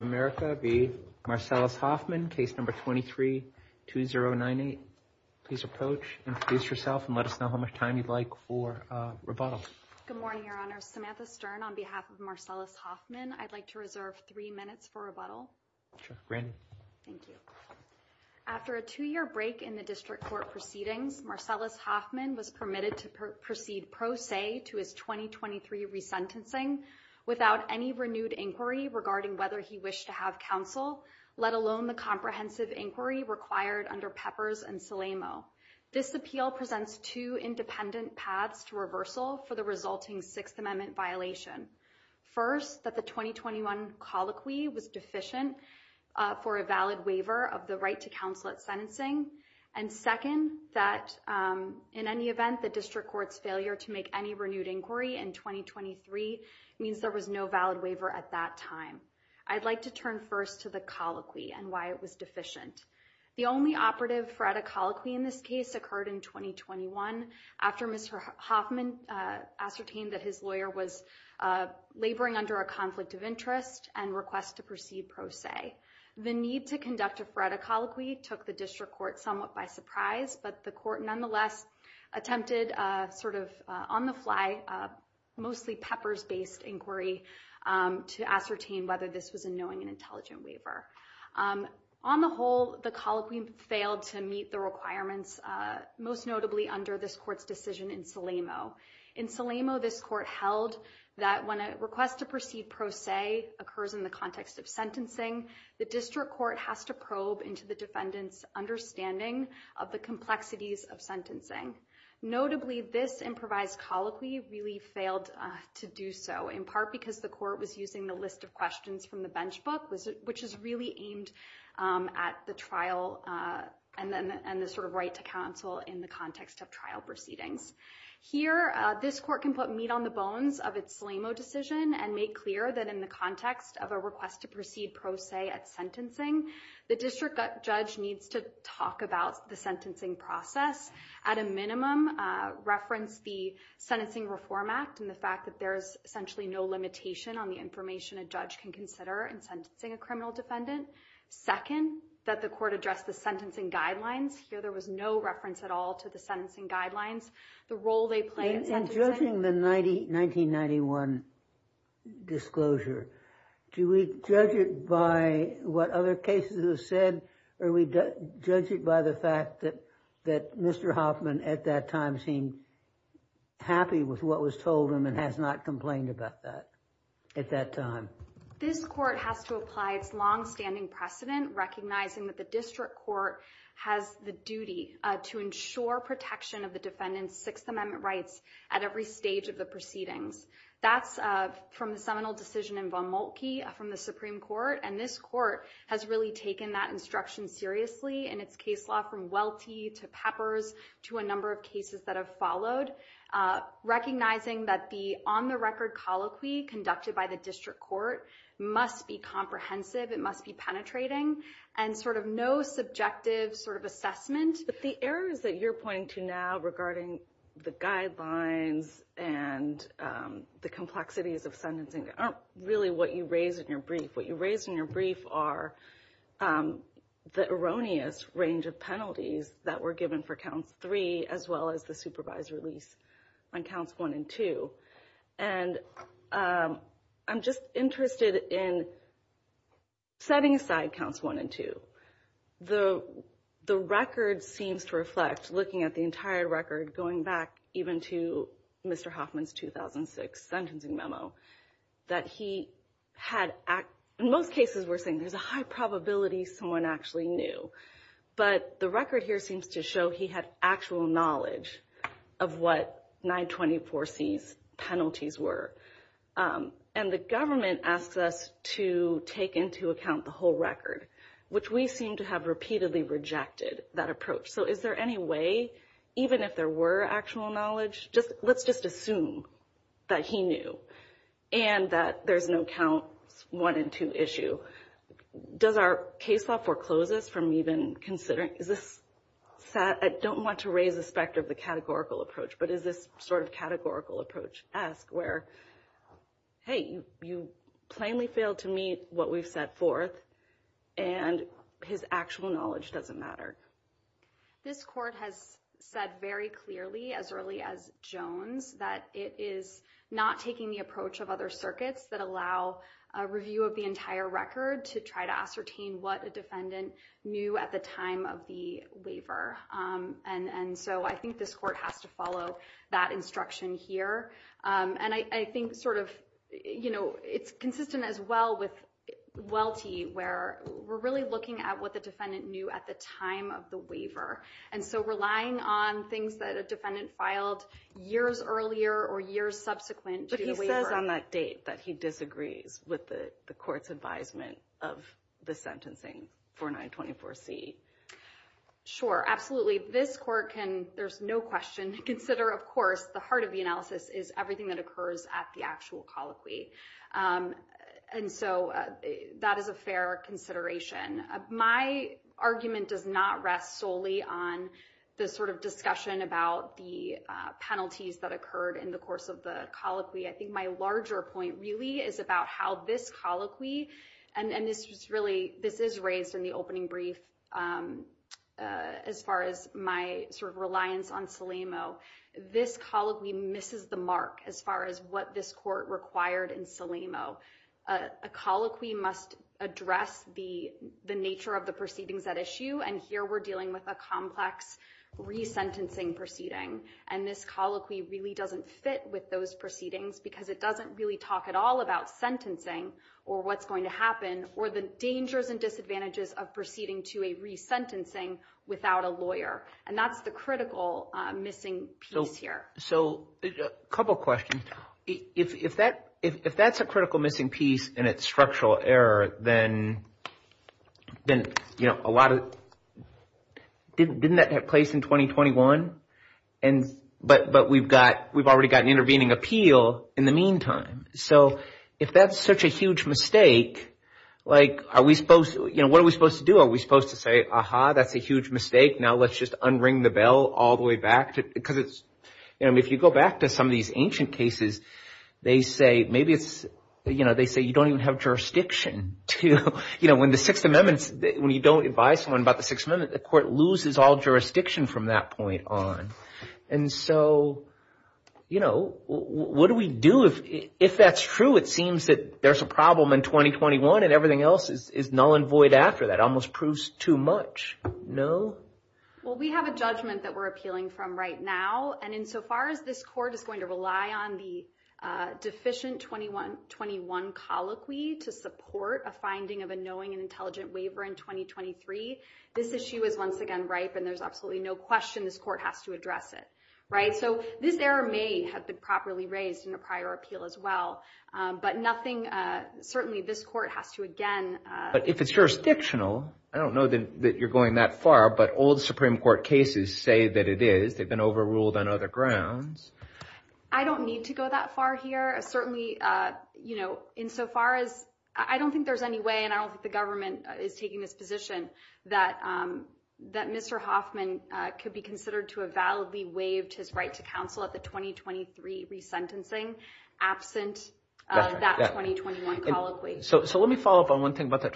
America v. Marcellus Hoffman, case number 23-2098. Please approach, introduce yourself, and let us know how much time you'd like for rebuttal. Good morning, Your Honor. Samantha Stern on behalf of Marcellus Hoffman. I'd like to reserve three minutes for rebuttal. Sure, granted. Thank you. After a two-year break in the district court proceedings, Marcellus Hoffman was permitted to proceed pro se to his 2023 resentencing without any renewed inquiry regarding whether he wished to have counsel, let alone the comprehensive inquiry required under Peppers and Salamo. This appeal presents two independent paths to reversal for the resulting Sixth Amendment violation. First, that the 2021 colloquy was deficient for a valid waiver of the right to counsel at sentencing. And second, that in any event, the district court's failure to make any inquiry in 2023 means there was no valid waiver at that time. I'd like to turn first to the colloquy and why it was deficient. The only operative for a colloquy in this case occurred in 2021 after Mr. Hoffman ascertained that his lawyer was laboring under a conflict of interest and request to proceed pro se. The need to conduct a for a colloquy took the district court somewhat by surprise, but the court nonetheless attempted a sort of on-the-fly, mostly Peppers-based inquiry to ascertain whether this was a knowing and intelligent waiver. On the whole, the colloquy failed to meet the requirements, most notably under this court's decision in Salamo. In Salamo, this court held that when a request to proceed pro se occurs in the context of sentencing, the district court has to probe into the defendant's understanding of the complexities of sentencing. Notably, this improvised colloquy really failed to do so, in part because the court was using the list of questions from the bench book, which is really aimed at the trial and then and the sort of right to counsel in the context of trial proceedings. Here, this court can put meat on the bones of its Salamo decision and make clear that in the context of a request to proceed pro se at sentencing, the district judge needs to talk about the sentencing process, at a minimum reference the Sentencing Reform Act and the fact that there's essentially no limitation on the information a judge can consider in sentencing a criminal defendant. Second, that the court addressed the sentencing guidelines. Here, there was no reference at all to the sentencing guidelines, the role they play in sentencing. In judging the 1991 disclosure, do we judge it by what other cases have said or we judge it by the fact that Mr. Hoffman at that time seemed happy with what was told him and has not complained about that at that time? This court has to apply its long-standing precedent, recognizing that the district court has the duty to ensure protection of the defendant's Sixth Amendment rights at every stage of the proceedings. That's from the seminal decision in Von Moltke from the Supreme Court and this court has really taken that instruction seriously in its case law from Welty to Peppers to a number of cases that have followed, recognizing that the on-the-record colloquy conducted by the district court must be comprehensive, it must be penetrating and sort of no subjective sort of assessment. But the errors that you're pointing to now regarding the guidelines and the complexities of sentencing aren't really what you raised in your brief. What you raised in your brief are the erroneous range of penalties that were given for counts three as well as the supervised release on counts one and two. And I'm just interested in setting aside counts one and two. The record seems to reflect, looking at the entire record going back even to Mr. Hoffman's 2006 sentencing memo, that he had, in most cases we're saying there's a high probability someone actually knew, but the record here seems to show he had actual knowledge of what 924C's penalties were. And the government asks us to take into account the whole record, which we seem to have repeatedly rejected that approach. So is there any way, even if there were actual knowledge, just let's just assume that he knew and that there's no counts one and two issue. Does our case law foreclose us from even considering, is this, I don't want to raise the specter of the categorical approach, but is this sort of categorical approach-esque where, hey, you plainly failed to meet what we've set forth and his actual knowledge doesn't matter? This court has said very clearly as early as Jones that it is not taking the approach of other circuits that allow a review of the entire record to try to ascertain what a defendant knew at the time of the waiver. And so I think this court has to follow that instruction here. And I think sort of, you know, it's consistent as well with Welty, where we're really looking at what the defendant knew at the time of the waiver. And so relying on things that a defendant filed years earlier or years subsequent to the waiver. But he says on that date that he disagrees with the court's advisement of the sentencing for 924C. Sure, absolutely. This court can, there's no question to consider, of course, the heart of the analysis is everything that occurs at the actual colloquy. And so that is a fair consideration. My argument does not rest solely on the sort of discussion about the penalties that occurred in the course of the colloquy. I think my larger point really is about how this colloquy, and this was really, this is raised in the opening brief, as far as my sort of reliance on SELAMO, this colloquy misses the mark as far as what this court required in SELAMO. A colloquy must address the nature of the proceedings at issue. And here we're dealing with a complex resentencing proceeding. And this colloquy really doesn't fit with those proceedings because it doesn't really talk at all about sentencing or what's to happen or the dangers and disadvantages of proceeding to a resentencing without a lawyer. And that's the critical missing piece here. So a couple of questions. If that's a critical missing piece and it's structural error, then a lot of, didn't that take place in 2021? But we've already got an intervening appeal in the meantime. So if that's such a huge mistake, like, are we supposed, what are we supposed to do? Are we supposed to say, aha, that's a huge mistake. Now let's just unring the bell all the way back. Because it's, you know, if you go back to some of these ancient cases, they say, maybe it's, you know, they say you don't even have jurisdiction to, you know, when the Sixth Amendment, when you don't advise someone about the Sixth Amendment, the court loses all jurisdiction from that point on. And so, you know, what do we do if that's true? It seems that there's a problem in 2021 and everything else is null and void after that. Almost proves too much. No? Well, we have a judgment that we're appealing from right now. And insofar as this court is going to rely on the deficient 2121 colloquy to support a finding of a knowing and intelligent waiver in 2023, this issue is once again ripe and there's absolutely no question this court has to address it. Right? So this error may have been properly raised in a prior appeal as well. But nothing, certainly this court has to again. But if it's jurisdictional, I don't know that you're going that far, but all the Supreme Court cases say that it is. They've been overruled on other grounds. I don't need to go that far here. Certainly, you know, insofar as, I don't think there's any way, and I don't think the government is taking this position, that Mr. Hoffman could be considered to have validly waived his right to counsel at the 2023 resentencing, absent that 2021 colloquy. So let me follow up on one thing about that.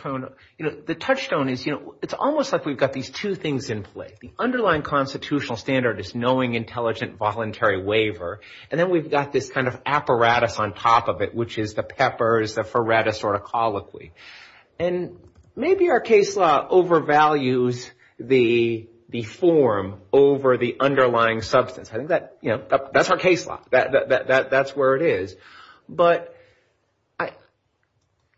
You know, the touchstone is, you know, it's almost like we've got these two things in play. The underlying constitutional standard is knowing, intelligent, voluntary waiver. And then we've got this kind of apparatus on top of it, which is the Pepper's, the Feretta sort of colloquy. And maybe our case law overvalues the form over the underlying substance. I think that, you know, that's our case law. That's where it is. But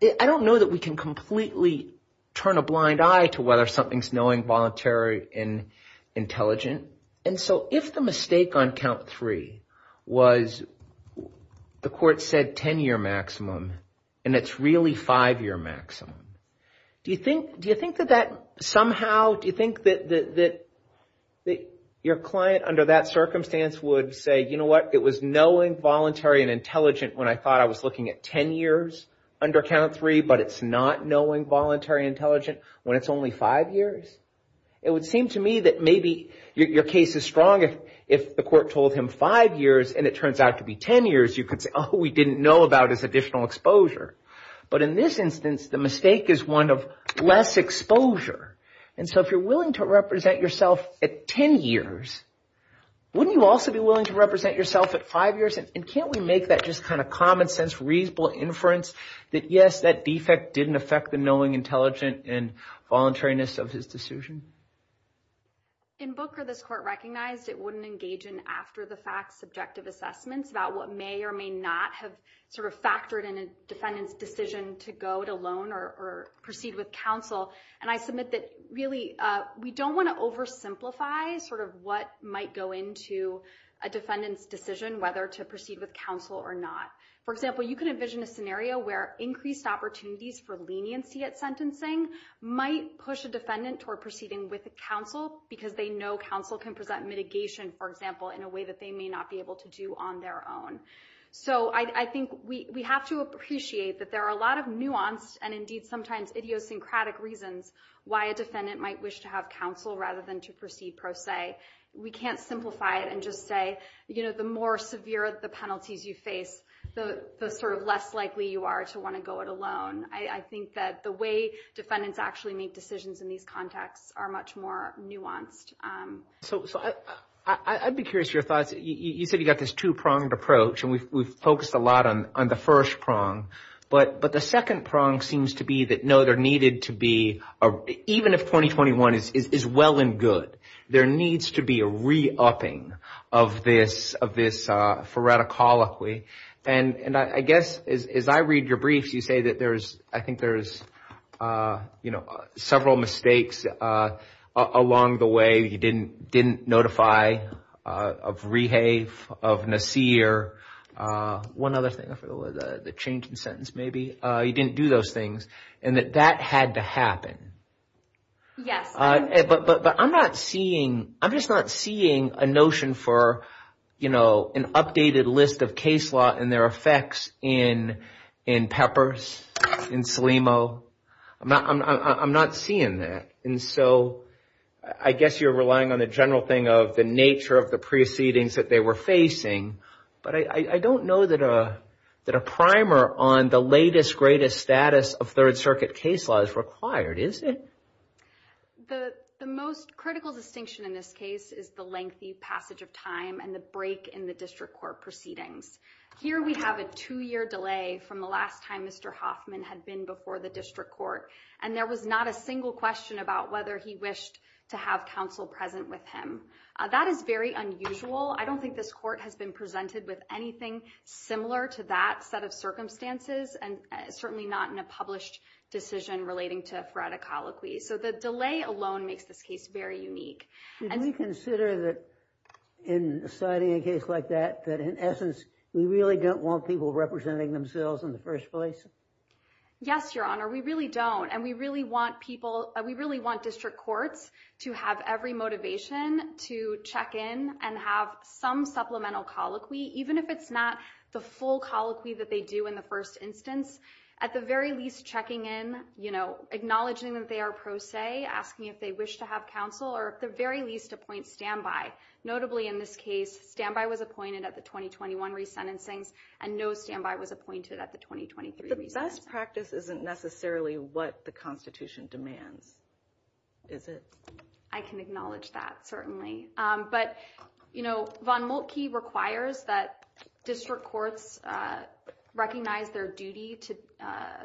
I don't know that we can completely turn a blind eye to whether something's knowing, voluntary, and intelligent. And so if the mistake on count three was the court said 10-year maximum, and it's really five-year maximum, do you think that that do you think that your client under that circumstance would say, you know what, it was knowing, voluntary, and intelligent when I thought I was looking at 10 years under count three, but it's not knowing, voluntary, intelligent when it's only five years. It would seem to me that maybe your case is strong if the court told him five years, and it turns out to be 10 years, you could say, oh, we didn't know about his additional exposure. But in this instance, the mistake is one of less exposure. And so if you're willing to represent yourself at 10 years, wouldn't you also be willing to represent yourself at five years? And can't we make that just kind of common sense, reasonable inference that yes, that defect didn't affect the knowing, intelligent, and voluntariness of his decision? In Booker, this court recognized it wouldn't engage in after-the-fact subjective assessments about what may or may not have sort of factored in a defendant's decision to go it alone or proceed with counsel. And I submit that really, we don't want to oversimplify sort of what might go into a defendant's decision, whether to proceed with counsel or not. For example, you can envision a scenario where increased opportunities for leniency at sentencing might push a defendant toward proceeding with counsel because they know counsel can present mitigation, for example, in a way that they may not be able to do on their own. So I think we have to appreciate that there are a lot of nuanced and indeed sometimes idiosyncratic reasons why a defendant might wish to have counsel rather than to proceed pro se. We can't simplify it and just say, you know, the more severe the penalties you face, the sort of less likely you are to want to go it alone. I think that the way defendants actually make decisions in these contexts are much more nuanced. So I'd be curious your thoughts. You said you got this two-pronged approach and we've focused a lot on the first prong. But the second prong seems to be that no, there needed to be, even if 2021 is well and good, there needs to be a re-upping of this phoreticology. And I guess as I read your briefs, you say that there's, I think there's, you know, several mistakes along the way you didn't notify of Rehave, of Nasir, one other thing, the change in sentence maybe, you didn't do those things and that that had to happen. Yes. But I'm not seeing, I'm just not seeing a notion for, you know, an updated list of case law and their effects in Peppers, in Salimo. I'm not seeing that. And so I guess you're relying on the general thing of the nature of the proceedings that they were facing. But I don't know that a primer on the latest greatest status of third circuit case law is required, is it? The most critical distinction in this case is the lengthy passage of time and the break in the district court proceedings. Here we have a two-year delay from the last time Mr. Hoffman had been before the district court. And there was not a single question about whether he wished to have counsel present with him. That is very unusual. I don't think this court has been presented with anything similar to that set of circumstances, and certainly not in a published decision relating to phoreticology. So the delay alone makes this case very unique. Did we consider that in citing a case like that, that in essence, we really don't want people representing themselves in the first place? Yes, Your Honor, we really don't. And we really want we really want district courts to have every motivation to check in and have some supplemental colloquy, even if it's not the full colloquy that they do in the first instance. At the very least, checking in, acknowledging that they are pro se, asking if they wish to have counsel, or at the very least, appoint standby. Notably, in this case, standby was appointed at the 2021 resentencings, and no standby was appointed at the 2023 resentencings. Best practice isn't necessarily what the Constitution demands, is it? I can acknowledge that, certainly. But, you know, von Moltke requires that district courts recognize their duty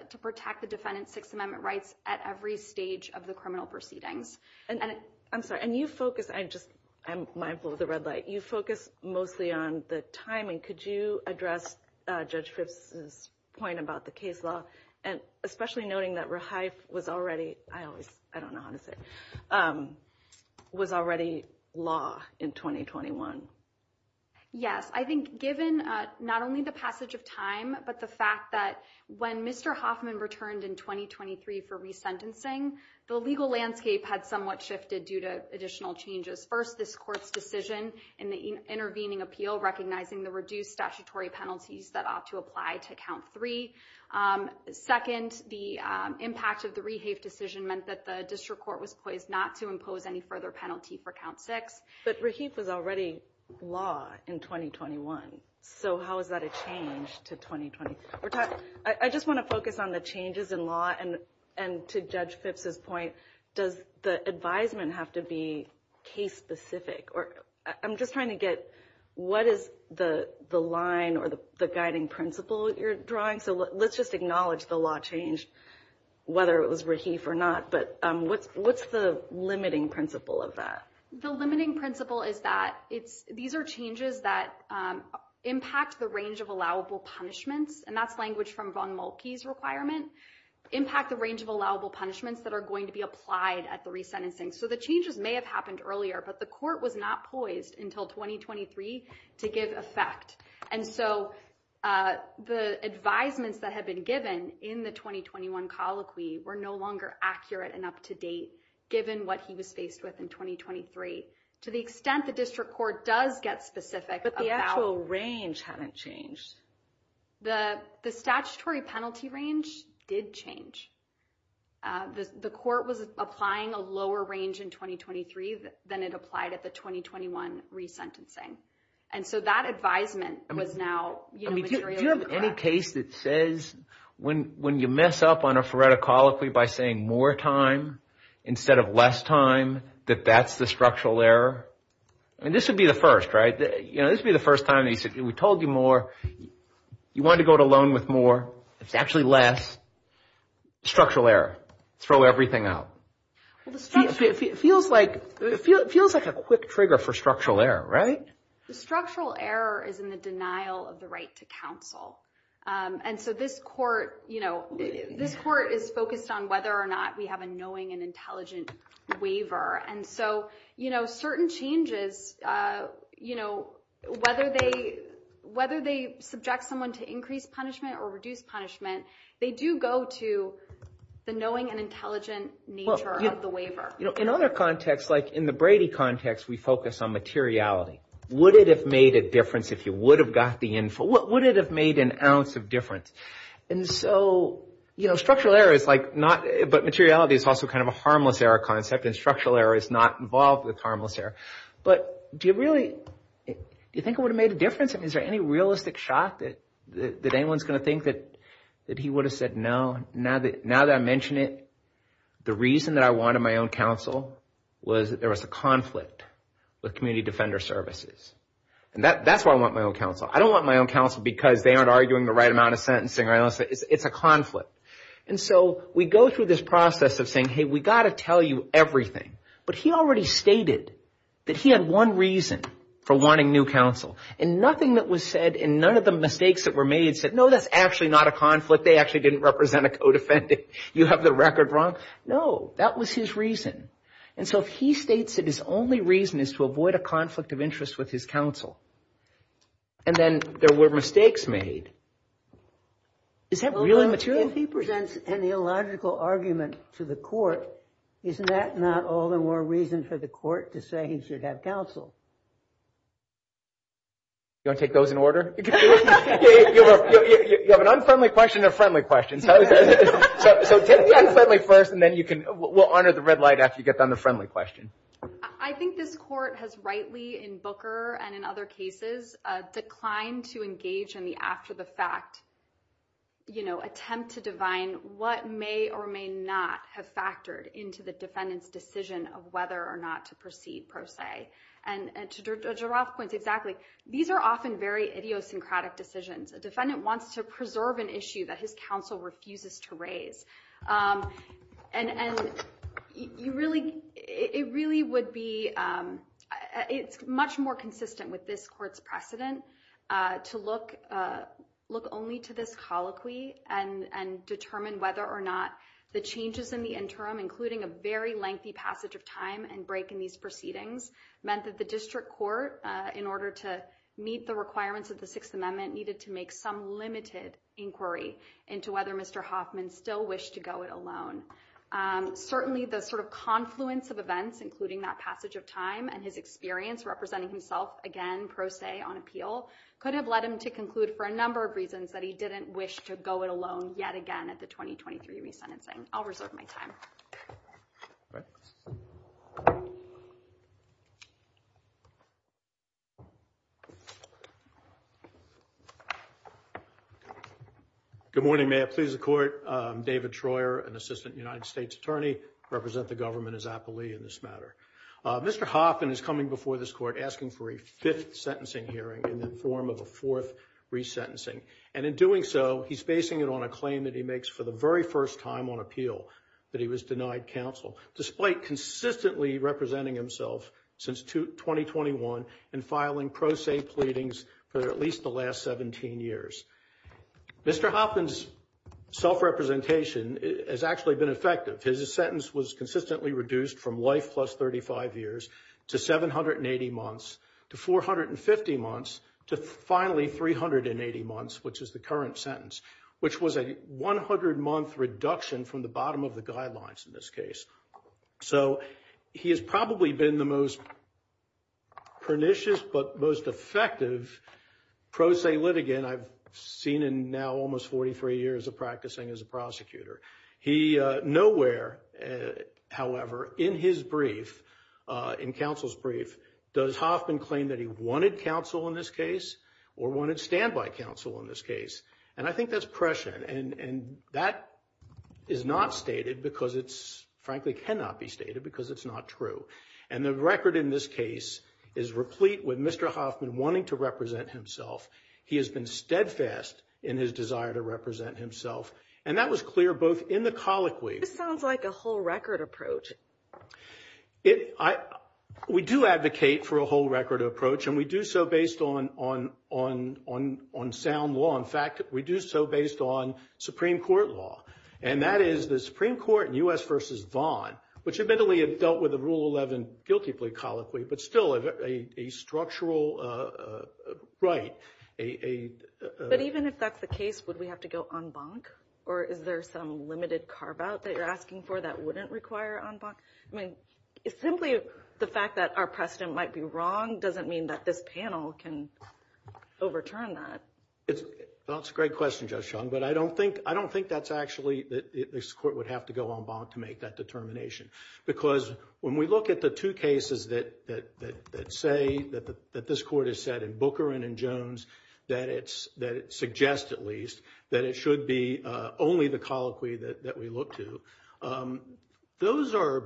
to protect the defendant's Sixth Amendment rights at every stage of the criminal proceedings. And I'm sorry, and you focus, I just, I'm mindful of the red light, you focus mostly on the timing. Could you address Judge Fripp's point about the case law, and especially noting that Rehife was already, I always, I don't know how to say, was already law in 2021? Yes, I think given not only the passage of time, but the fact that when Mr. Hoffman returned in 2023 for resentencing, the legal landscape had somewhat shifted due to additional changes. First, this court's decision in the intervening appeal, recognizing the reduced statutory penalties that ought to apply to count three. Second, the impact of the Rehife decision meant that the district court was poised not to impose any further penalty for count six. But Rehife was already law in 2021. So how is that a change to 2020? I just want to have to be case specific, or I'm just trying to get, what is the line or the guiding principle you're drawing? So let's just acknowledge the law changed, whether it was Rehife or not. But what's the limiting principle of that? The limiting principle is that it's, these are changes that impact the range of allowable punishments, and that's language from Von Mulkey's requirement, impact the range of allowable punishments that are going to be changed. So the changes may have happened earlier, but the court was not poised until 2023 to give effect. And so the advisements that had been given in the 2021 colloquy were no longer accurate and up to date, given what he was faced with in 2023. To the extent the district court does get specific. But the actual range hadn't changed. The statutory penalty range did change. The court was applying a lower range in 2023 than it applied at the 2021 resentencing. And so that advisement was now materially incorrect. Do you have any case that says, when you mess up on a FRERTA colloquy by saying more time instead of less time, that that's the structural error? I mean, this would be the first, right? This would be the first time that he said, we told you more. You wanted to go to loan with more. It's actually less. Structural error. Throw everything out. It feels like a quick trigger for structural error, right? The structural error is in the denial of the right to counsel. And so this court is focused on whether or not we have a knowing and intelligent waiver. And so certain changes, you know, whether they subject someone to increased punishment or reduced punishment, they do go to the knowing and intelligent nature of the waiver. You know, in other contexts, like in the Brady context, we focus on materiality. Would it have made a difference if you would have got the info? Would it have made an ounce of difference? And so, you know, structural error is like not, but materiality is also kind of a Do you really think it would have made a difference? I mean, is there any realistic shock that anyone's going to think that he would have said no? Now that I mention it, the reason that I wanted my own counsel was that there was a conflict with community defender services. And that's why I want my own counsel. I don't want my own counsel because they aren't arguing the right amount of sentencing. It's a conflict. And so we go through this process of hey, we got to tell you everything. But he already stated that he had one reason for wanting new counsel and nothing that was said in none of the mistakes that were made said, no, that's actually not a conflict. They actually didn't represent a codefendant. You have the record wrong. No, that was his reason. And so he states that his only reason is to avoid a conflict of interest with his counsel. And then there were mistakes made. Is that really material? If he presents an illogical argument to the court, isn't that not all the more reason for the court to say he should have counsel? You want to take those in order? You have an unfriendly question, a friendly question. So take the unfriendly first and then you can, we'll honor the red light after you get done the friendly question. I think this court has rightly in Booker and in other cases, declined to engage in the after the fact, you know, attempt to divine what may or may not have factored into the defendant's decision of whether or not to proceed pro se. And to giraffe points exactly, these are often very idiosyncratic decisions. A defendant wants to preserve an issue that his counsel refuses to raise. And you really, it really would be, it's much more consistent with this court's precedent to look only to this colloquy and determine whether or not the changes in the interim, including a very lengthy passage of time and break in these proceedings, meant that the district court in order to meet the requirements of the Sixth Amendment needed to make some limited inquiry into whether Mr. Hoffman still wished to and his experience representing himself again, pro se on appeal could have led him to conclude for a number of reasons that he didn't wish to go it alone yet again at the 2023 resentencing. I'll reserve my time. Good morning, may I please the court. I'm David Troyer, an assistant United States attorney represent the government as appellee in this matter. Mr. Hoffman is coming before this court asking for a fifth sentencing hearing in the form of a fourth resentencing. And in doing so, he's basing it on a claim that he makes for the very first time on appeal that he was denied counsel, despite consistently representing himself since 2021 and filing pro se pleadings for at least the last 17 years. Mr. Hoffman's self representation has actually been effective. His sentence was consistently reduced from life plus 35 years to 780 months, to 450 months, to finally 380 months, which is the current sentence, which was a 100 month reduction from the bottom of the guidelines in this case. So he has probably been the most pernicious but most effective pro se litigant I've seen in now almost 43 years of practicing as a prosecutor. He nowhere, however, in his brief, in counsel's brief, does Hoffman claim that he wanted counsel in this case or wanted standby counsel in this case. And I think that's prescient and that is not stated because it's frankly cannot be stated because it's not true. And the record in this case is replete with Mr. Hoffman wanting to represent himself. He has been steadfast in his to represent himself. And that was clear both in the colloquy. This sounds like a whole record approach. We do advocate for a whole record approach and we do so based on sound law. In fact, we do so based on Supreme Court law. And that is the Supreme Court in U.S. versus Vaughan, which admittedly had dealt with the Rule 11 guilty plea colloquy, but still a structural right. But even if that's the case, would we have to go en banc? Or is there some limited carve out that you're asking for that wouldn't require en banc? I mean, simply the fact that our precedent might be wrong doesn't mean that this panel can overturn that. That's a great question, Judge Chung, but I don't think that's actually, that this court would have to go en banc to make that determination. Because when we look at the two cases that say, that this court has said in Booker and in Jones, that it suggests at least, that it should be only the colloquy that we look to, those are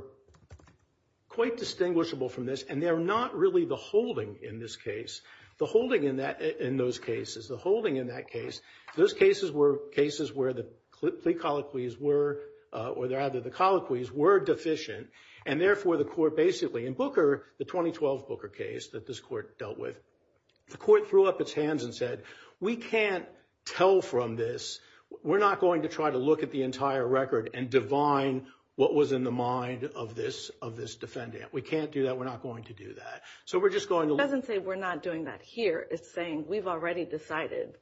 quite distinguishable from this. And they're not really the holding in this case. The holding in that, in those cases, the holding in that case, those cases were cases where the plea colloquies were, or rather the in Booker, the 2012 Booker case that this court dealt with, the court threw up its hands and said, we can't tell from this. We're not going to try to look at the entire record and divine what was in the mind of this defendant. We can't do that. We're not going to do that. So we're just going to- It doesn't say we're not doing that here. It's saying we've already decided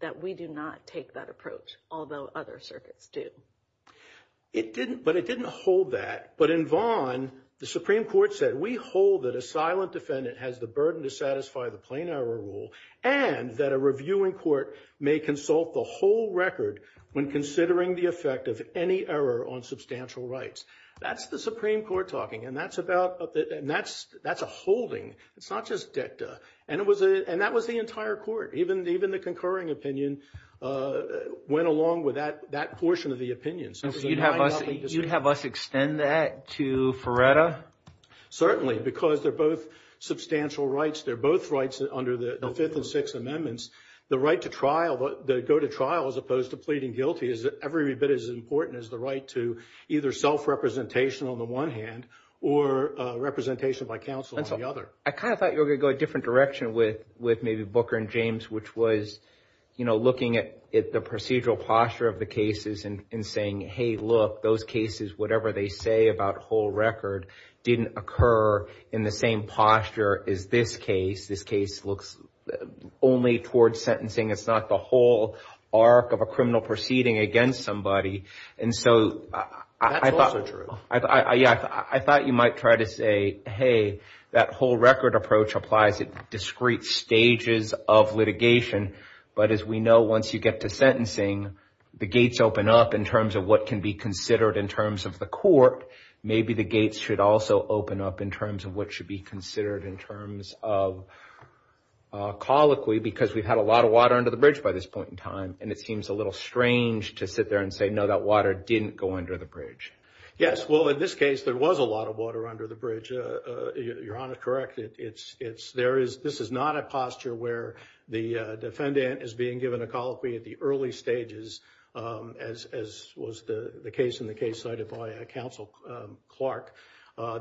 that we do not take that approach, although other circuits do. It didn't, but it didn't hold that. But in Vaughan, the Supreme Court said, we hold that a silent defendant has the burden to satisfy the plain error rule, and that a reviewing court may consult the whole record when considering the effect of any error on substantial rights. That's the Supreme Court talking, and that's about, and that's a holding. It's not just dicta. And it was, and that was the entire court. Even the concurring opinion went along with that portion of the opinion. So you'd have us extend that to Ferretta? Certainly, because they're both substantial rights. They're both rights under the Fifth and Sixth Amendments. The right to trial, the go to trial, as opposed to pleading guilty, is every bit as important as the right to either self-representation on the one hand, or representation by counsel on the other. I kind of thought you were going to go a different direction with maybe Booker and James, which was looking at the procedural posture of the cases and saying, hey, look, those cases, whatever they say about whole record, didn't occur in the same posture as this case. This case looks only towards sentencing. It's not the whole arc of a criminal proceeding against somebody. And so I thought you might try to say, hey, that whole record approach applies at discrete stages of litigation. But as we know, once you get to sentencing, the gates open up in terms of what can be considered in terms of the court. Maybe the gates should also open up in terms of what should be considered in terms of colloquy, because we've had a lot of water under the bridge by this point in time. And it seems a little strange to sit there and say, no, that water didn't go under the bridge. Yes. Well, in this case, there was a lot of water under the bridge. Your Honor, correct. This is not a posture where the defendant is being given a colloquy at the early stages, as was the case in the case cited by Counsel Clark.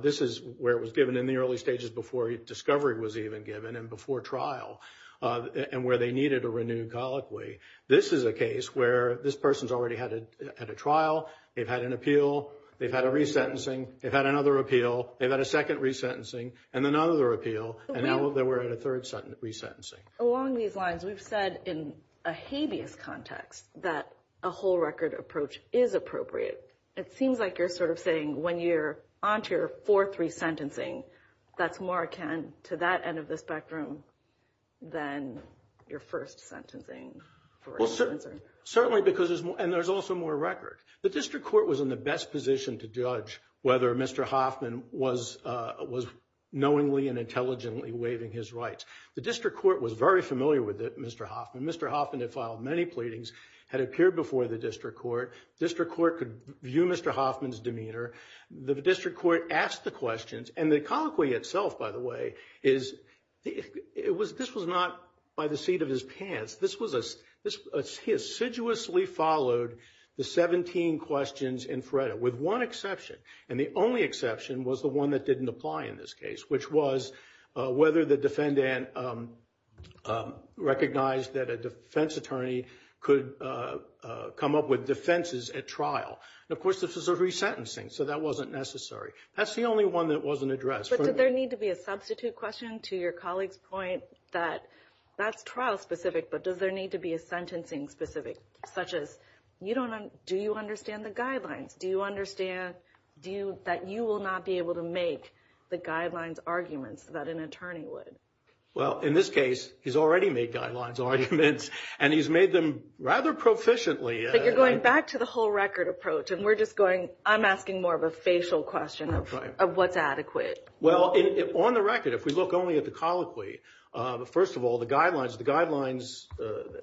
This is where it was given in the early stages before discovery was even given and before trial, and where they needed a renewed colloquy. This is a case where this person's already had a trial. They've had an appeal. They've had a resentencing. They've had another appeal. They've had a second resentencing and another appeal. And now we're at a third resentencing. Along these lines, we've said in a habeas context that a whole record approach is appropriate. It seems like you're sort of saying when you're onto your fourth resentencing, that's more akin to that end of the spectrum than your first sentencing. Well, certainly because there's more, and there's also more record. The district court was in the best position to judge whether Mr. Hoffman was knowingly and intelligently waiving his rights. The district court was very familiar with it, Mr. Hoffman. Mr. Hoffman had filed many pleadings, had appeared before the district court. District court could view Mr. Hoffman's demeanor. The district court asked the questions, and the colloquy itself, by the way, is this was not by the seat of his pants. He assiduously followed the 17 questions in FREDA, with one exception. And the only exception was the one that didn't apply in this case, which was whether the defendant recognized that a defense attorney could come up with defenses at trial. And of course, this was a resentencing, so that wasn't necessary. That's the only one that wasn't addressed. But did there need to be a substitute question to your colleague's point that that's trial specific, but does there need to be a sentencing specific, such as do you understand the guidelines? Do you understand that you will not be able to make the guidelines arguments that an attorney would? Well, in this case, he's already made guidelines arguments, and he's made them rather proficiently. But you're going back to the whole record approach, and we're just going, I'm asking more of a facial question of what's adequate. Well, on the record, if we look only at the colloquy, first of all, the guidelines, the guidelines,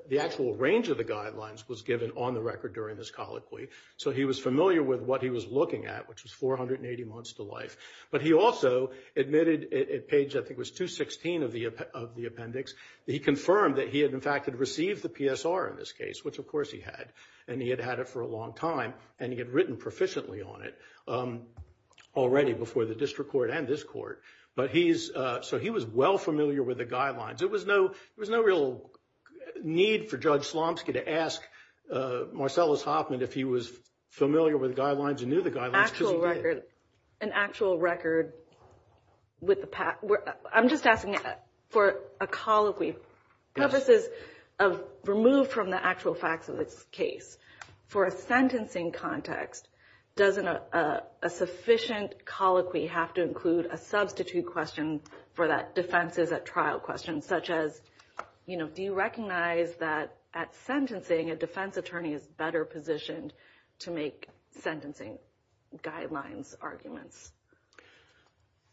the actual range of the guidelines was given on the record during this colloquy. So he was familiar with what he was looking at, which was 480 months to life. But he also admitted at page, I think it was 216 of the appendix, he confirmed that he had in fact had received the PSR in this case, which of course he had, and he had had it for a long time, and he had written proficiently on it already before the district court and this court. But he's, so he was well familiar with the guidelines. It was no, it was no real need for Judge Slomski to ask Marcellus Hoffman if he was familiar with the guidelines, he knew the guidelines because he did. An actual record with the, I'm just asking for a colloquy, purposes of, removed from the actual facts of this case, for a sentencing context, doesn't a sufficient colloquy have to include a substitute question for that defenses at trial question, such as, you know, do you recognize that at sentencing a defense attorney is better positioned to make sentencing guidelines arguments?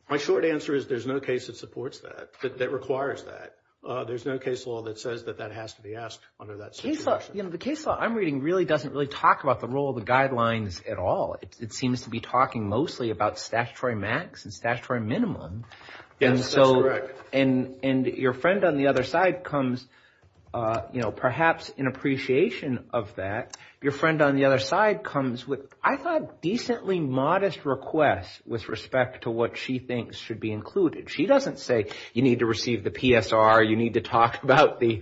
My short answer is there's no case that that requires that. There's no case law that says that that has to be asked under that situation. You know, the case law I'm reading really doesn't really talk about the role of the guidelines at all. It seems to be talking mostly about statutory max and statutory minimum. Yes, that's correct. And your friend on the other side comes, you know, perhaps in appreciation of that, your friend on the other side comes with, I thought, decently modest requests with respect to what she thinks should be included. She doesn't say you need to receive the PSR, you need to talk about the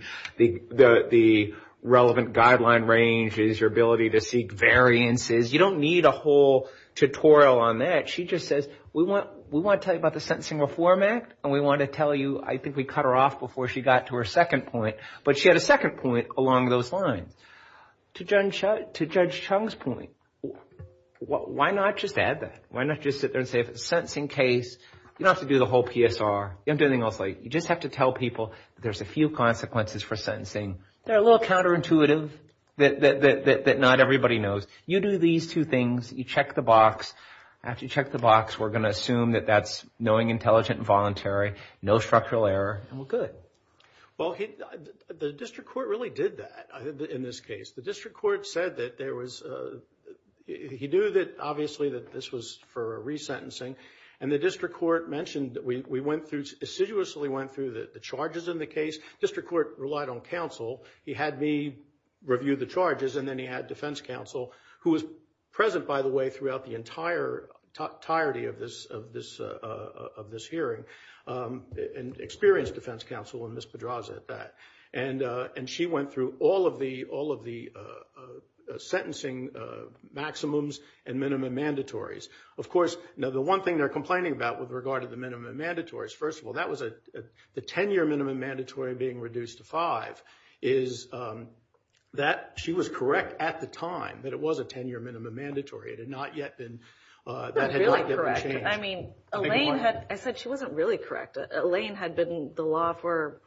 relevant guideline ranges, your ability to seek variances. You don't need a whole tutorial on that. She just says, we want to tell you about the Sentencing Reform Act, and we want to tell you, I think we cut her off before she got to her second point, but she had a second point along those lines. To Judge Chung's point, why not just add that? Why not just sit there and say if it's a sentencing case, you don't have to do the whole PSR. You don't have to do anything else. You just have to tell people there's a few consequences for sentencing. They're a little counterintuitive that not everybody knows. You do these two things. You check the box. After you check the box, we're going to assume that that's knowing, intelligent, and voluntary, no structural error, and we're good. Well, the district court really did that in this case. The district court said that there was, he knew that obviously that this was for resentencing, and the district court mentioned that we went through, assiduously went through the charges in the case. District court relied on counsel. He had me review the charges, and then he had defense counsel, who was present, by the way, throughout the entire entirety of this hearing, and experienced defense counsel, and Ms. Pedraza at that, and she went through all of the sentencing maximums and minimum mandatories. Of course, now the one thing they're complaining about with regard to the minimum mandatories, first of all, that was the 10-year minimum mandatory being reduced to five, is that she was correct at the time that it was a 10-year minimum mandatory. It had not yet been, that had not yet been changed. I mean, Elaine had, I said she wasn't really correct. Elaine had been the law for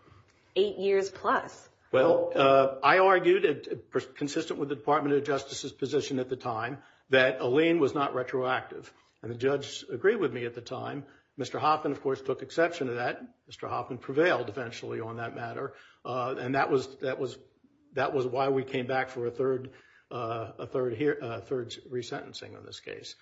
eight years plus. Well, I argued, consistent with the Department of Justice's position at the time, that Elaine was not retroactive, and the judge agreed with me at the time. Mr. Hoffman, of course, took exception to that. Mr. Hoffman prevailed, eventually, on that matter, and that was why we came back for a third resentencing in this case,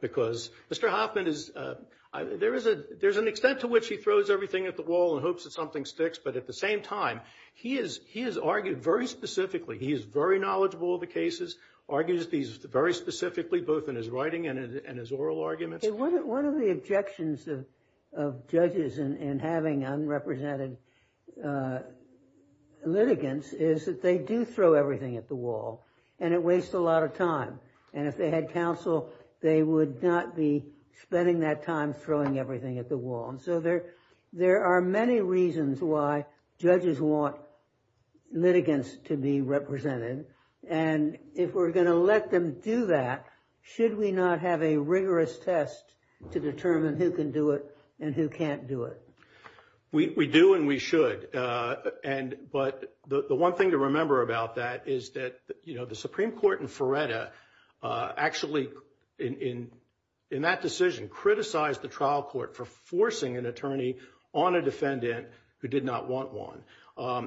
because Mr. Hoffman is, there is a, there's an extent to which he throws everything at the wall and hopes that something sticks, but at the same time, he is, he has argued very specifically, he is very knowledgeable of the cases, argues these very specifically, both in his writing and in his oral arguments. One of the objections of judges in having unrepresented litigants is that they do throw everything at the wall, and it wastes a lot of time, and if they had counsel, they would not be spending that time throwing everything at the wall, and so there are many reasons why judges want litigants to be represented, and if we're going to let them do that, should we not have a rigorous test to determine who can do it and who can't do it? We do and we should, and, but the one thing to remember about that is that, you know, the Supreme Court in Feretta actually, in that decision, criticized the trial court for forcing an attorney on a defendant who did not want one,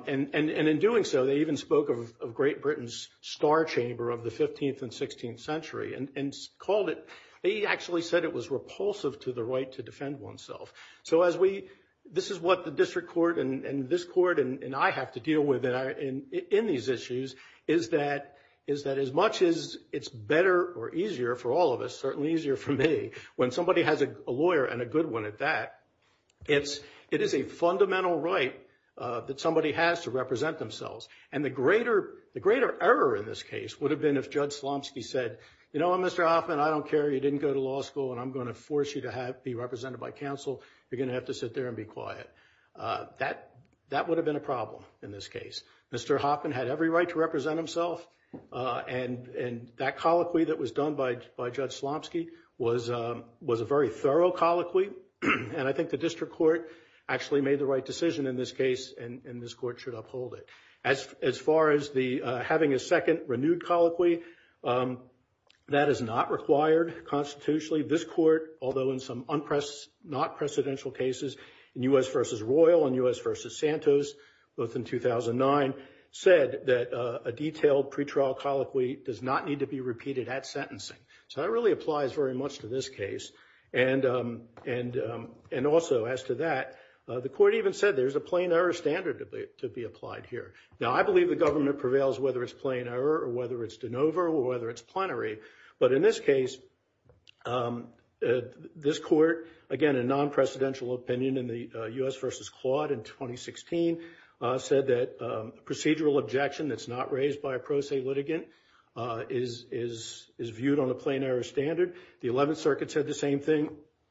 and in doing so, they even spoke of Great Britain's star chamber of the 15th and 16th century and called it, they actually said it was repulsive to the right to defend oneself, so as we, this is what the district court and this court and I have to deal with in these issues, is that as much as it's better or easier for all of us, certainly easier for me, when somebody has a lawyer and a good one at that, it is a fundamental right that somebody has to represent themselves, and the greater error in this case would have been if Judge Slomski said, you know what, Mr. Hoffman, I don't care, you didn't go to law school, and I'm going to force you to be represented by counsel, you're going to have to sit there and be quiet. That would have been a problem in this case. Mr. Hoffman had every right to represent himself, and that colloquy that was done by Judge Slomski was a very thorough colloquy, and I think the district court actually made the right decision in this case, and this court should uphold it. As far as having a second renewed colloquy, that is not required constitutionally. This court, although in some not precedential cases, in U.S. v. Royal and U.S. v. Santos, both in 2009, said that a detailed pretrial colloquy does not need to be repeated at sentencing. So that really applies very much to this case, and also as to that, the court even said there's a plain error standard to be applied here. Now, I believe the government prevails whether it's plain error, or whether it's de novo, or whether it's plenary, but in this case, this court, again, a non-precedential opinion in the U.S. v. Claude in 2016, said that a procedural objection that's not raised by a pro se litigant is viewed on a plain error standard. The 11th Circuit said the same thing,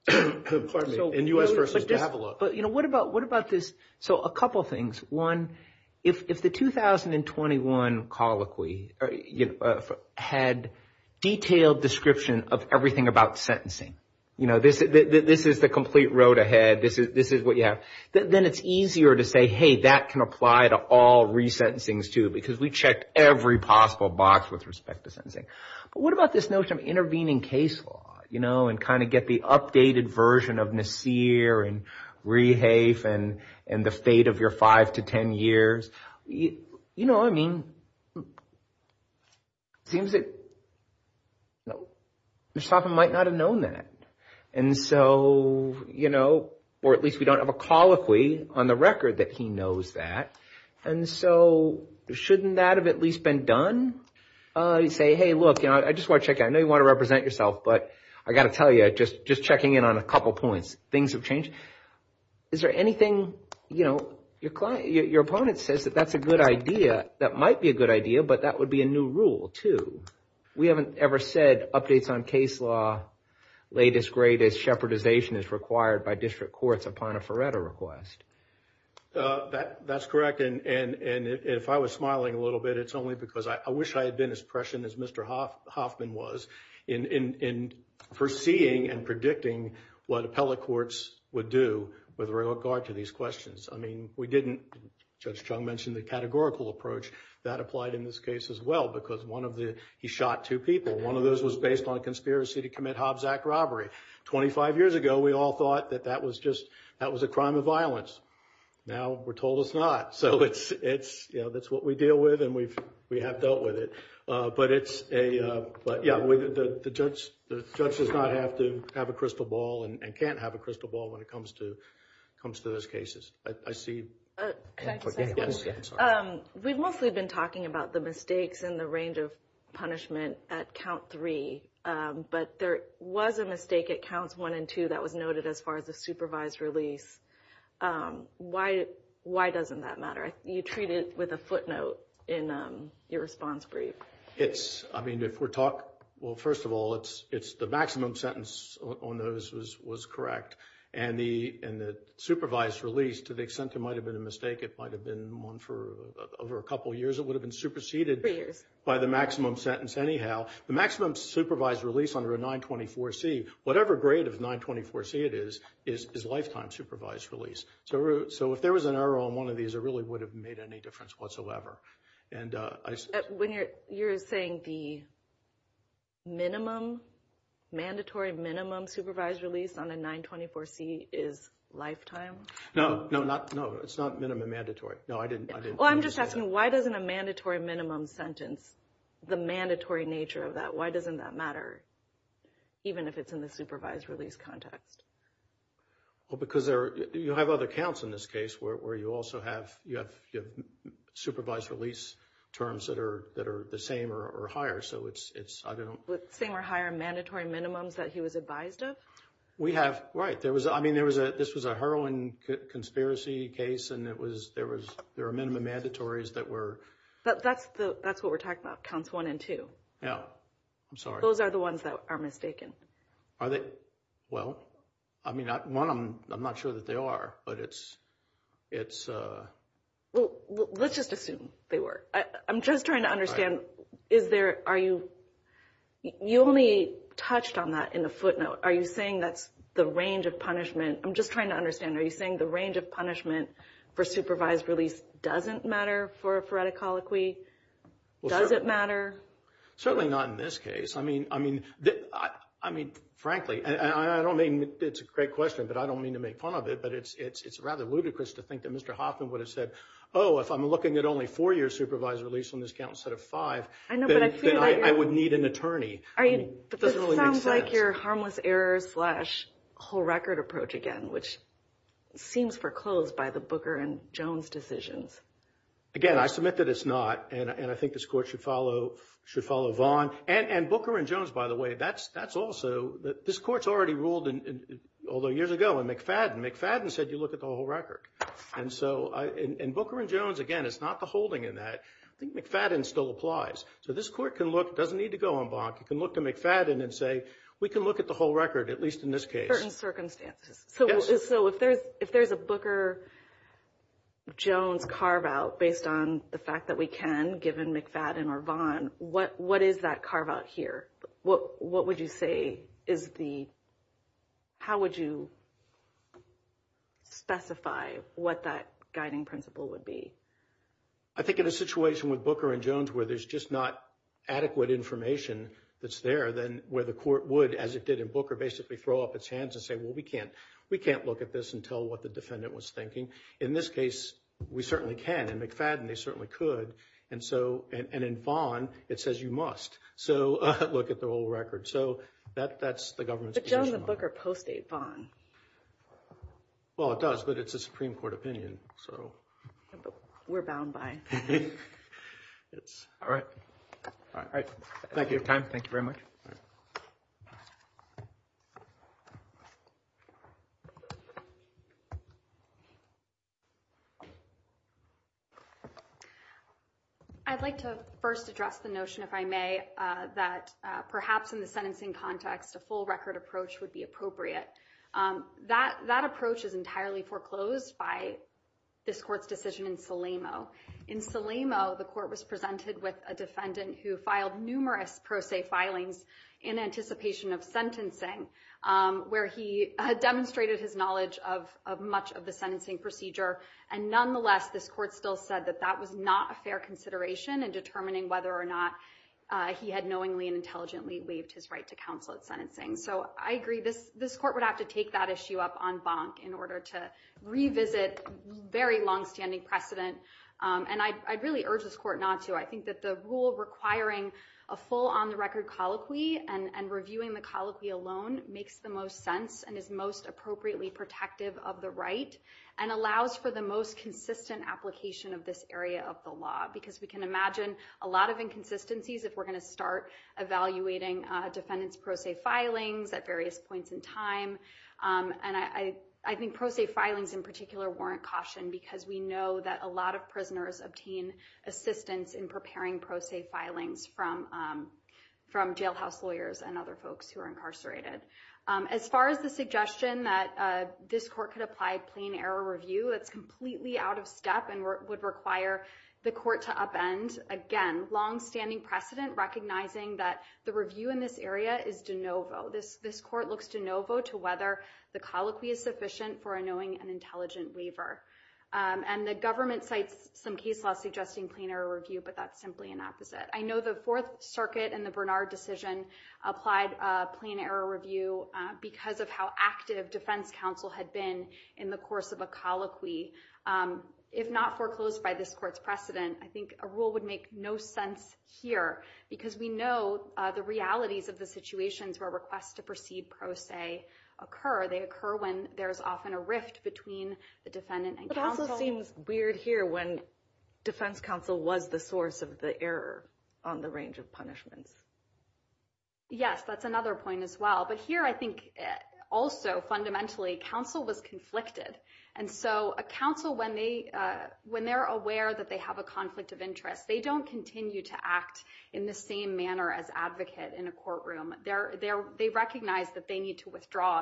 pardon me, in U.S. v. Davila. But, you know, what about this, so a couple things. One, if the 2021 colloquy, you know, had detailed description of everything about sentencing, you know, this is the complete road ahead, this is what you have, then it's easier to say, hey, that can apply to all resentencings too, because we checked every possible box with respect to sentencing. But what about this notion of intervening case law, and kind of get the updated version of Nassir, and Rehafe, and the fate of your five to ten years? You know, I mean, it seems that, you know, Mr. Hoffman might not have known that. And so, you know, or at least we don't have a colloquy on the record that he knows that. And so, shouldn't that have at least been done? You say, hey, look, you know, I just want to check out, I know you want to represent yourself, but I've got to tell you, just checking in on a couple points, things have changed. Is there anything, you know, your opponent says that that's a good idea, that might be a good idea, but that would be a new rule too. We haven't ever said updates on case law, latest, greatest, shepherdization is required by district courts upon a Ferretto request. That's correct, and if I was smiling a little bit, it's only because I wish I had been as Hoffman was, in foreseeing and predicting what appellate courts would do with regard to these questions. I mean, we didn't, Judge Chung mentioned the categorical approach, that applied in this case as well, because one of the, he shot two people. One of those was based on conspiracy to commit Hobbs Act robbery. 25 years ago, we all thought that that was just, that was a crime of violence. Now, we're told it's not. So it's, you know, that's what we deal with, and we've, dealt with it, but it's a, but yeah, the judge does not have to have a crystal ball and can't have a crystal ball when it comes to, comes to those cases. I see. We've mostly been talking about the mistakes in the range of punishment at count three, but there was a mistake at counts one and two that was noted as far as the supervised release. Why, why doesn't that matter? You treat it with a footnote in your response brief. It's, I mean, if we're talking, well, first of all, it's, it's the maximum sentence on those was, was correct. And the, and the supervised release, to the extent there might have been a mistake, it might have been one for over a couple of years, it would have been superseded by the maximum sentence anyhow. The maximum supervised release under a 924C, whatever grade of 924C it is, is lifetime supervised release. So if there was an error on one of these, it really would have made any difference whatsoever. And I see. When you're, you're saying the minimum, mandatory minimum supervised release on a 924C is lifetime? No, no, not, no, it's not minimum mandatory. No, I didn't, I didn't. Well, I'm just asking, why doesn't a mandatory minimum sentence, the mandatory nature of that, why doesn't that matter, even if it's in the supervised release context? Well, because there, you have other counts in this case where, where you also have, you have, you have supervised release terms that are, that are the same or, or higher. So it's, it's, I don't. Same or higher mandatory minimums that he was advised of? We have, right. There was, I mean, there was a, this was a heroin conspiracy case and it was, there was, there are minimum mandatories that were. But that's the, that's what we're talking about, counts one and two. Yeah, I'm sorry. Those are the ones that are mistaken. Are they? Well, I mean, one, I'm, I'm not sure that they are, but it's, it's. Well, let's just assume they were. I'm just trying to understand, is there, are you, you only touched on that in the footnote. Are you saying that's the range of punishment? I'm just trying to understand, are you saying the range of punishment for supervised release doesn't matter for a phoretic colloquy? Does it matter? Certainly not in this case. I mean, I mean, I mean, frankly, and I don't mean, it's a great question, but I don't mean to make fun of it, but it's, it's, it's rather ludicrous to think that Mr. Hoffman would have said, oh, if I'm looking at only four-year supervised release on this count instead of five, I would need an attorney. I mean, it doesn't really make sense. This sounds like your harmless error slash whole record approach again, which seems foreclosed by the Booker and Jones decisions. Again, I submit that it's not. And I think this court should follow, should follow Vaughn and, and Booker and Jones, by the way, that's, that's also, this court's already ruled in, although years ago in McFadden, McFadden said you look at the whole record. And so I, in, in Booker and Jones, again, it's not the holding in that. I think McFadden still applies. So this court can look, doesn't need to go on block. You can look to McFadden and say, we can look at the whole record, at least in this case. Certain circumstances. So if there's, if there's a Booker and Jones carve out based on the fact that we can, given McFadden or Vaughn, what, what is that carve out here? What, what would you say is the, how would you specify what that guiding principle would be? I think in a situation with Booker and Jones, where there's just not adequate information that's there, then where the court would, as it did in Booker, basically throw up its hands and say, well, we can't, we can't look at this and tell what the defendant was thinking. In this case, we certainly can. In McFadden, they certainly could. And so, and in Vaughn, it says you must. So look at the whole record. So that, that's the government's position. But Jones and Booker post-date Vaughn. Well, it does, but it's a Supreme Court opinion. So. We're bound by it. All right. All right. Thank you for your time. Thank you very much. I'd like to first address the notion, if I may, that perhaps in the sentencing context, a full record approach would be appropriate. That, that approach is entirely foreclosed by this court's decision in Salamo. In Salamo, the court was presented with a defendant who filed numerous pro se filings in anticipation of sentencing, where he had demonstrated his knowledge of, of much of the sentencing procedure. And nonetheless, this court still said that that was not a fair consideration in determining whether or not he had knowingly and intelligently waived his right to counsel at sentencing. So I agree, this, this court would have to take that issue up en banc in order to revisit very longstanding precedent. And I, I'd really urge this court not to. I think that the rule requiring a full on the record colloquy and reviewing the colloquy alone makes the most sense and is most appropriately protective of the right and allows for the most consistent application of this area of the law. Because we can imagine a lot of inconsistencies if we're going to start evaluating a defendant's pro se filings at various points in time. And I, I think pro se filings in particular warrant caution because we know that a lot of prisoners obtain assistance in preparing pro se filings from, from jailhouse lawyers and other folks who are incarcerated. As far as the suggestion that this court could apply plain error review, it's completely out of step and would require the court to upend again, longstanding precedent, recognizing that the review in this area is de novo. This, this court looks de novo to whether the colloquy is sufficient for a knowing and intelligent waiver. And the government cites some case law suggesting plain error review, but that's simply an opposite. I know the fourth circuit and the Bernard decision applied a plain error review because of how active defense counsel had been in the course of a colloquy. If not foreclosed by this court's precedent, I think a rule would make no sense here because we know the realities of the situations where requests to proceed pro se occur. They occur when there's often a rift between the defendant and counsel. It also seems weird here when defense counsel was the source of the error on the range of punishments. Yes, that's another point as well. But here I think also fundamentally counsel was conflicted. And so a counsel, when they, when they're aware that they have a conflict of interest, they don't continue to act in the same manner as advocate in a courtroom. They're,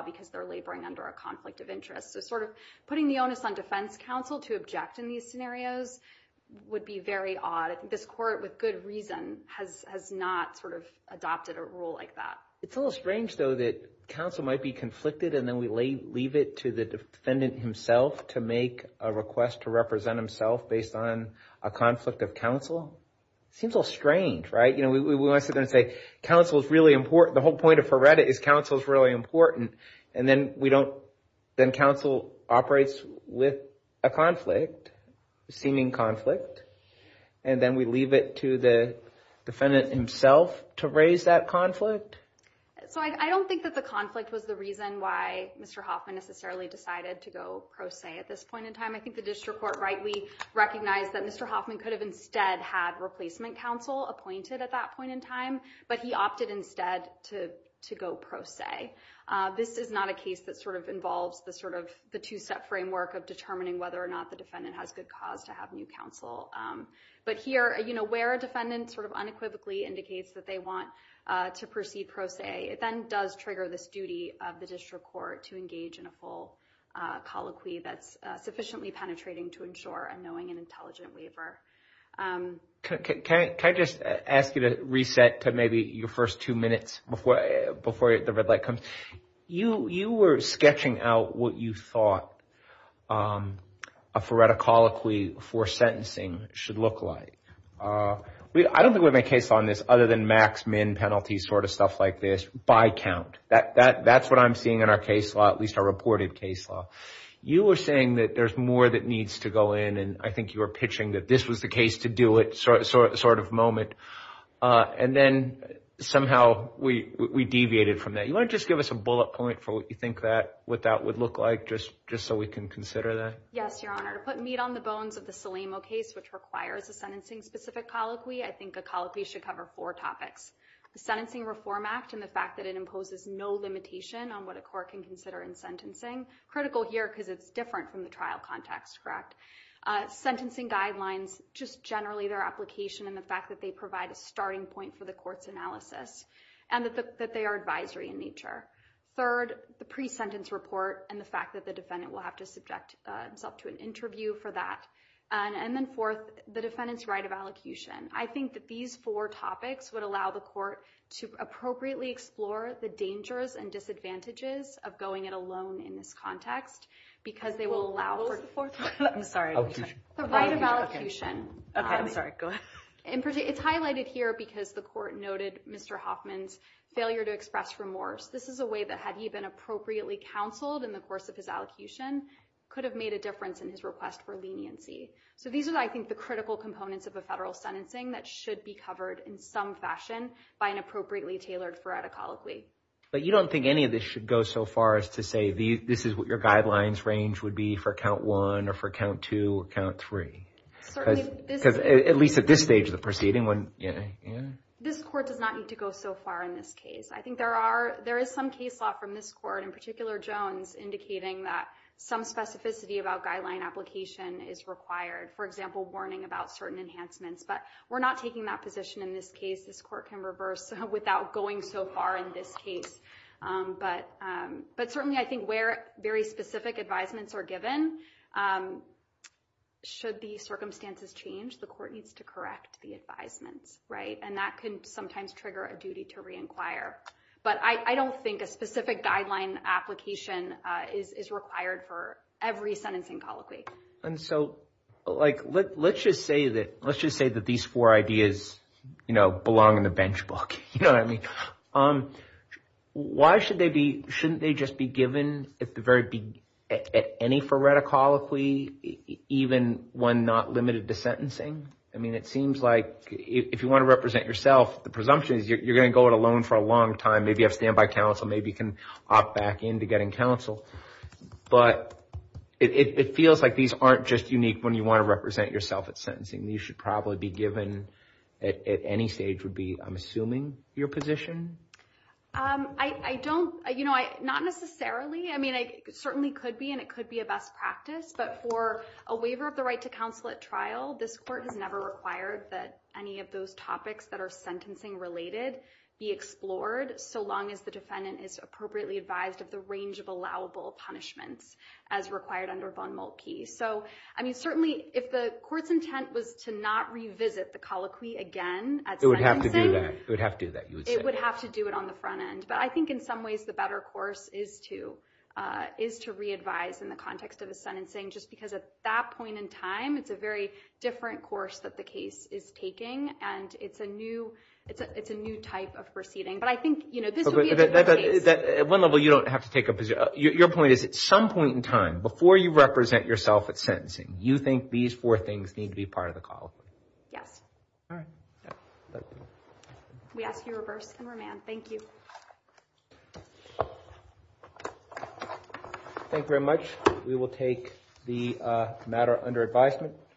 because they're laboring under a conflict of interest. So sort of putting the onus on defense counsel to object in these scenarios would be very odd. This court with good reason has, has not sort of adopted a rule like that. It's a little strange though, that counsel might be conflicted. And then we lay, leave it to the defendant himself to make a request to represent himself based on a conflict of counsel. It seems a little strange, right? You know, we want to sit counsel is really important. The whole point of Heredity is counsel is really important. And then we don't, then counsel operates with a conflict, seeming conflict. And then we leave it to the defendant himself to raise that conflict. So I don't think that the conflict was the reason why Mr. Hoffman necessarily decided to go pro se at this point in time. I think the district court rightly recognized that Mr. Hoffman could have instead had replacement counsel appointed at that point in time, but he opted instead to, to go pro se. This is not a case that sort of involves the sort of the two-step framework of determining whether or not the defendant has good cause to have new counsel. But here, you know, where a defendant sort of unequivocally indicates that they want to proceed pro se, it then does trigger this duty of the district court to engage in a full colloquy that's sufficiently penetrating to ensure a knowing and intelligent waiver. Can I just ask you to reset to maybe your first two minutes before the red light comes? You were sketching out what you thought a phoretic colloquy for sentencing should look like. I don't think we have a case on this other than max-min penalties sort of stuff like this by count. That's what I'm seeing in our case law, at least our reported case law. You were saying that there's more that needs to go in, and I think you were pitching that this was the case to do it sort of moment. And then somehow we deviated from that. You want to just give us a bullet point for what you think that, what that would look like just, just so we can consider that? Yes, Your Honor. To put meat on the bones of the Salemo case, which requires a sentencing-specific colloquy, I think a colloquy should cover four topics. The Sentencing Reform Act and the fact that it imposes no limitation on what a court can consider in sentencing. Critical here because it's different from the trial context, correct? Sentencing guidelines, just generally their application and the fact that they provide a starting point for the court's analysis and that they are advisory in nature. Third, the pre-sentence report and the fact that the defendant will have to subject himself to an interview for that. And then fourth, the defendant's right of allocution. I think that these four topics would allow the court to appropriately explore the dangers and disadvantages of going it alone in this context, because they will allow... What was the fourth one? I'm sorry. Allocution. The right of allocation. Okay, I'm sorry. Go ahead. It's highlighted here because the court noted Mr. Hoffman's failure to express remorse. This is a way that had he been appropriately counseled in the course of his allocution, could have made a difference in his request for leniency. So these are, I think, the critical components of a federal sentencing that should be covered in some fashion by an attorney. I don't think any of this should go so far as to say this is what your guidelines range would be for count one or for count two or count three. At least at this stage of the proceeding. This court does not need to go so far in this case. I think there is some case law from this court, in particular Jones, indicating that some specificity about guideline application is required. For example, warning about certain enhancements. But we're not taking that position in this case. This court can reverse without going so far in this case. But certainly, I think where very specific advisements are given, should the circumstances change, the court needs to correct the advisements, right? And that can sometimes trigger a duty to re-inquire. But I don't think a specific guideline application is required for every sentencing colloquy. And so, like, let's just say that these four ideas, you know, belong in the bench book. You know what I mean? Why should they be, shouldn't they just be given at the very, at any forerunner colloquy, even when not limited to sentencing? I mean, it seems like if you want to represent yourself, the presumption is you're going to go it alone for a long time. Maybe you have standby counsel. Maybe you can opt back in to getting counsel. But it feels like these aren't just unique when you want to represent yourself at sentencing. These should probably be given at any stage would be, I'm assuming, your position? Um, I don't, you know, not necessarily. I mean, it certainly could be, and it could be a best practice. But for a waiver of the right to counsel at trial, this court has never required that any of those topics that are sentencing related be explored, so long as the defendant is appropriately advised of the range of allowable punishments as required under Von Moltke. So, I mean, certainly if the court's intent was to not revisit the colloquy again at sentencing. It would have to do that. It would have to do that. It would have to do it on the front end. But I think in some ways, the better course is to, is to re-advise in the context of a sentencing, just because at that point in time, it's a very different course that the case is taking. And it's a new, it's a new type of proceeding. But I think, you know, this would be a different case. At one level, you don't have to take up, your point is, at some point in time, before you represent yourself at sentencing, you think these four things need to be part of the colloquy. Yes. We ask you reverse and remand. Thank you. Thank you very much. We will take the matter under advisement.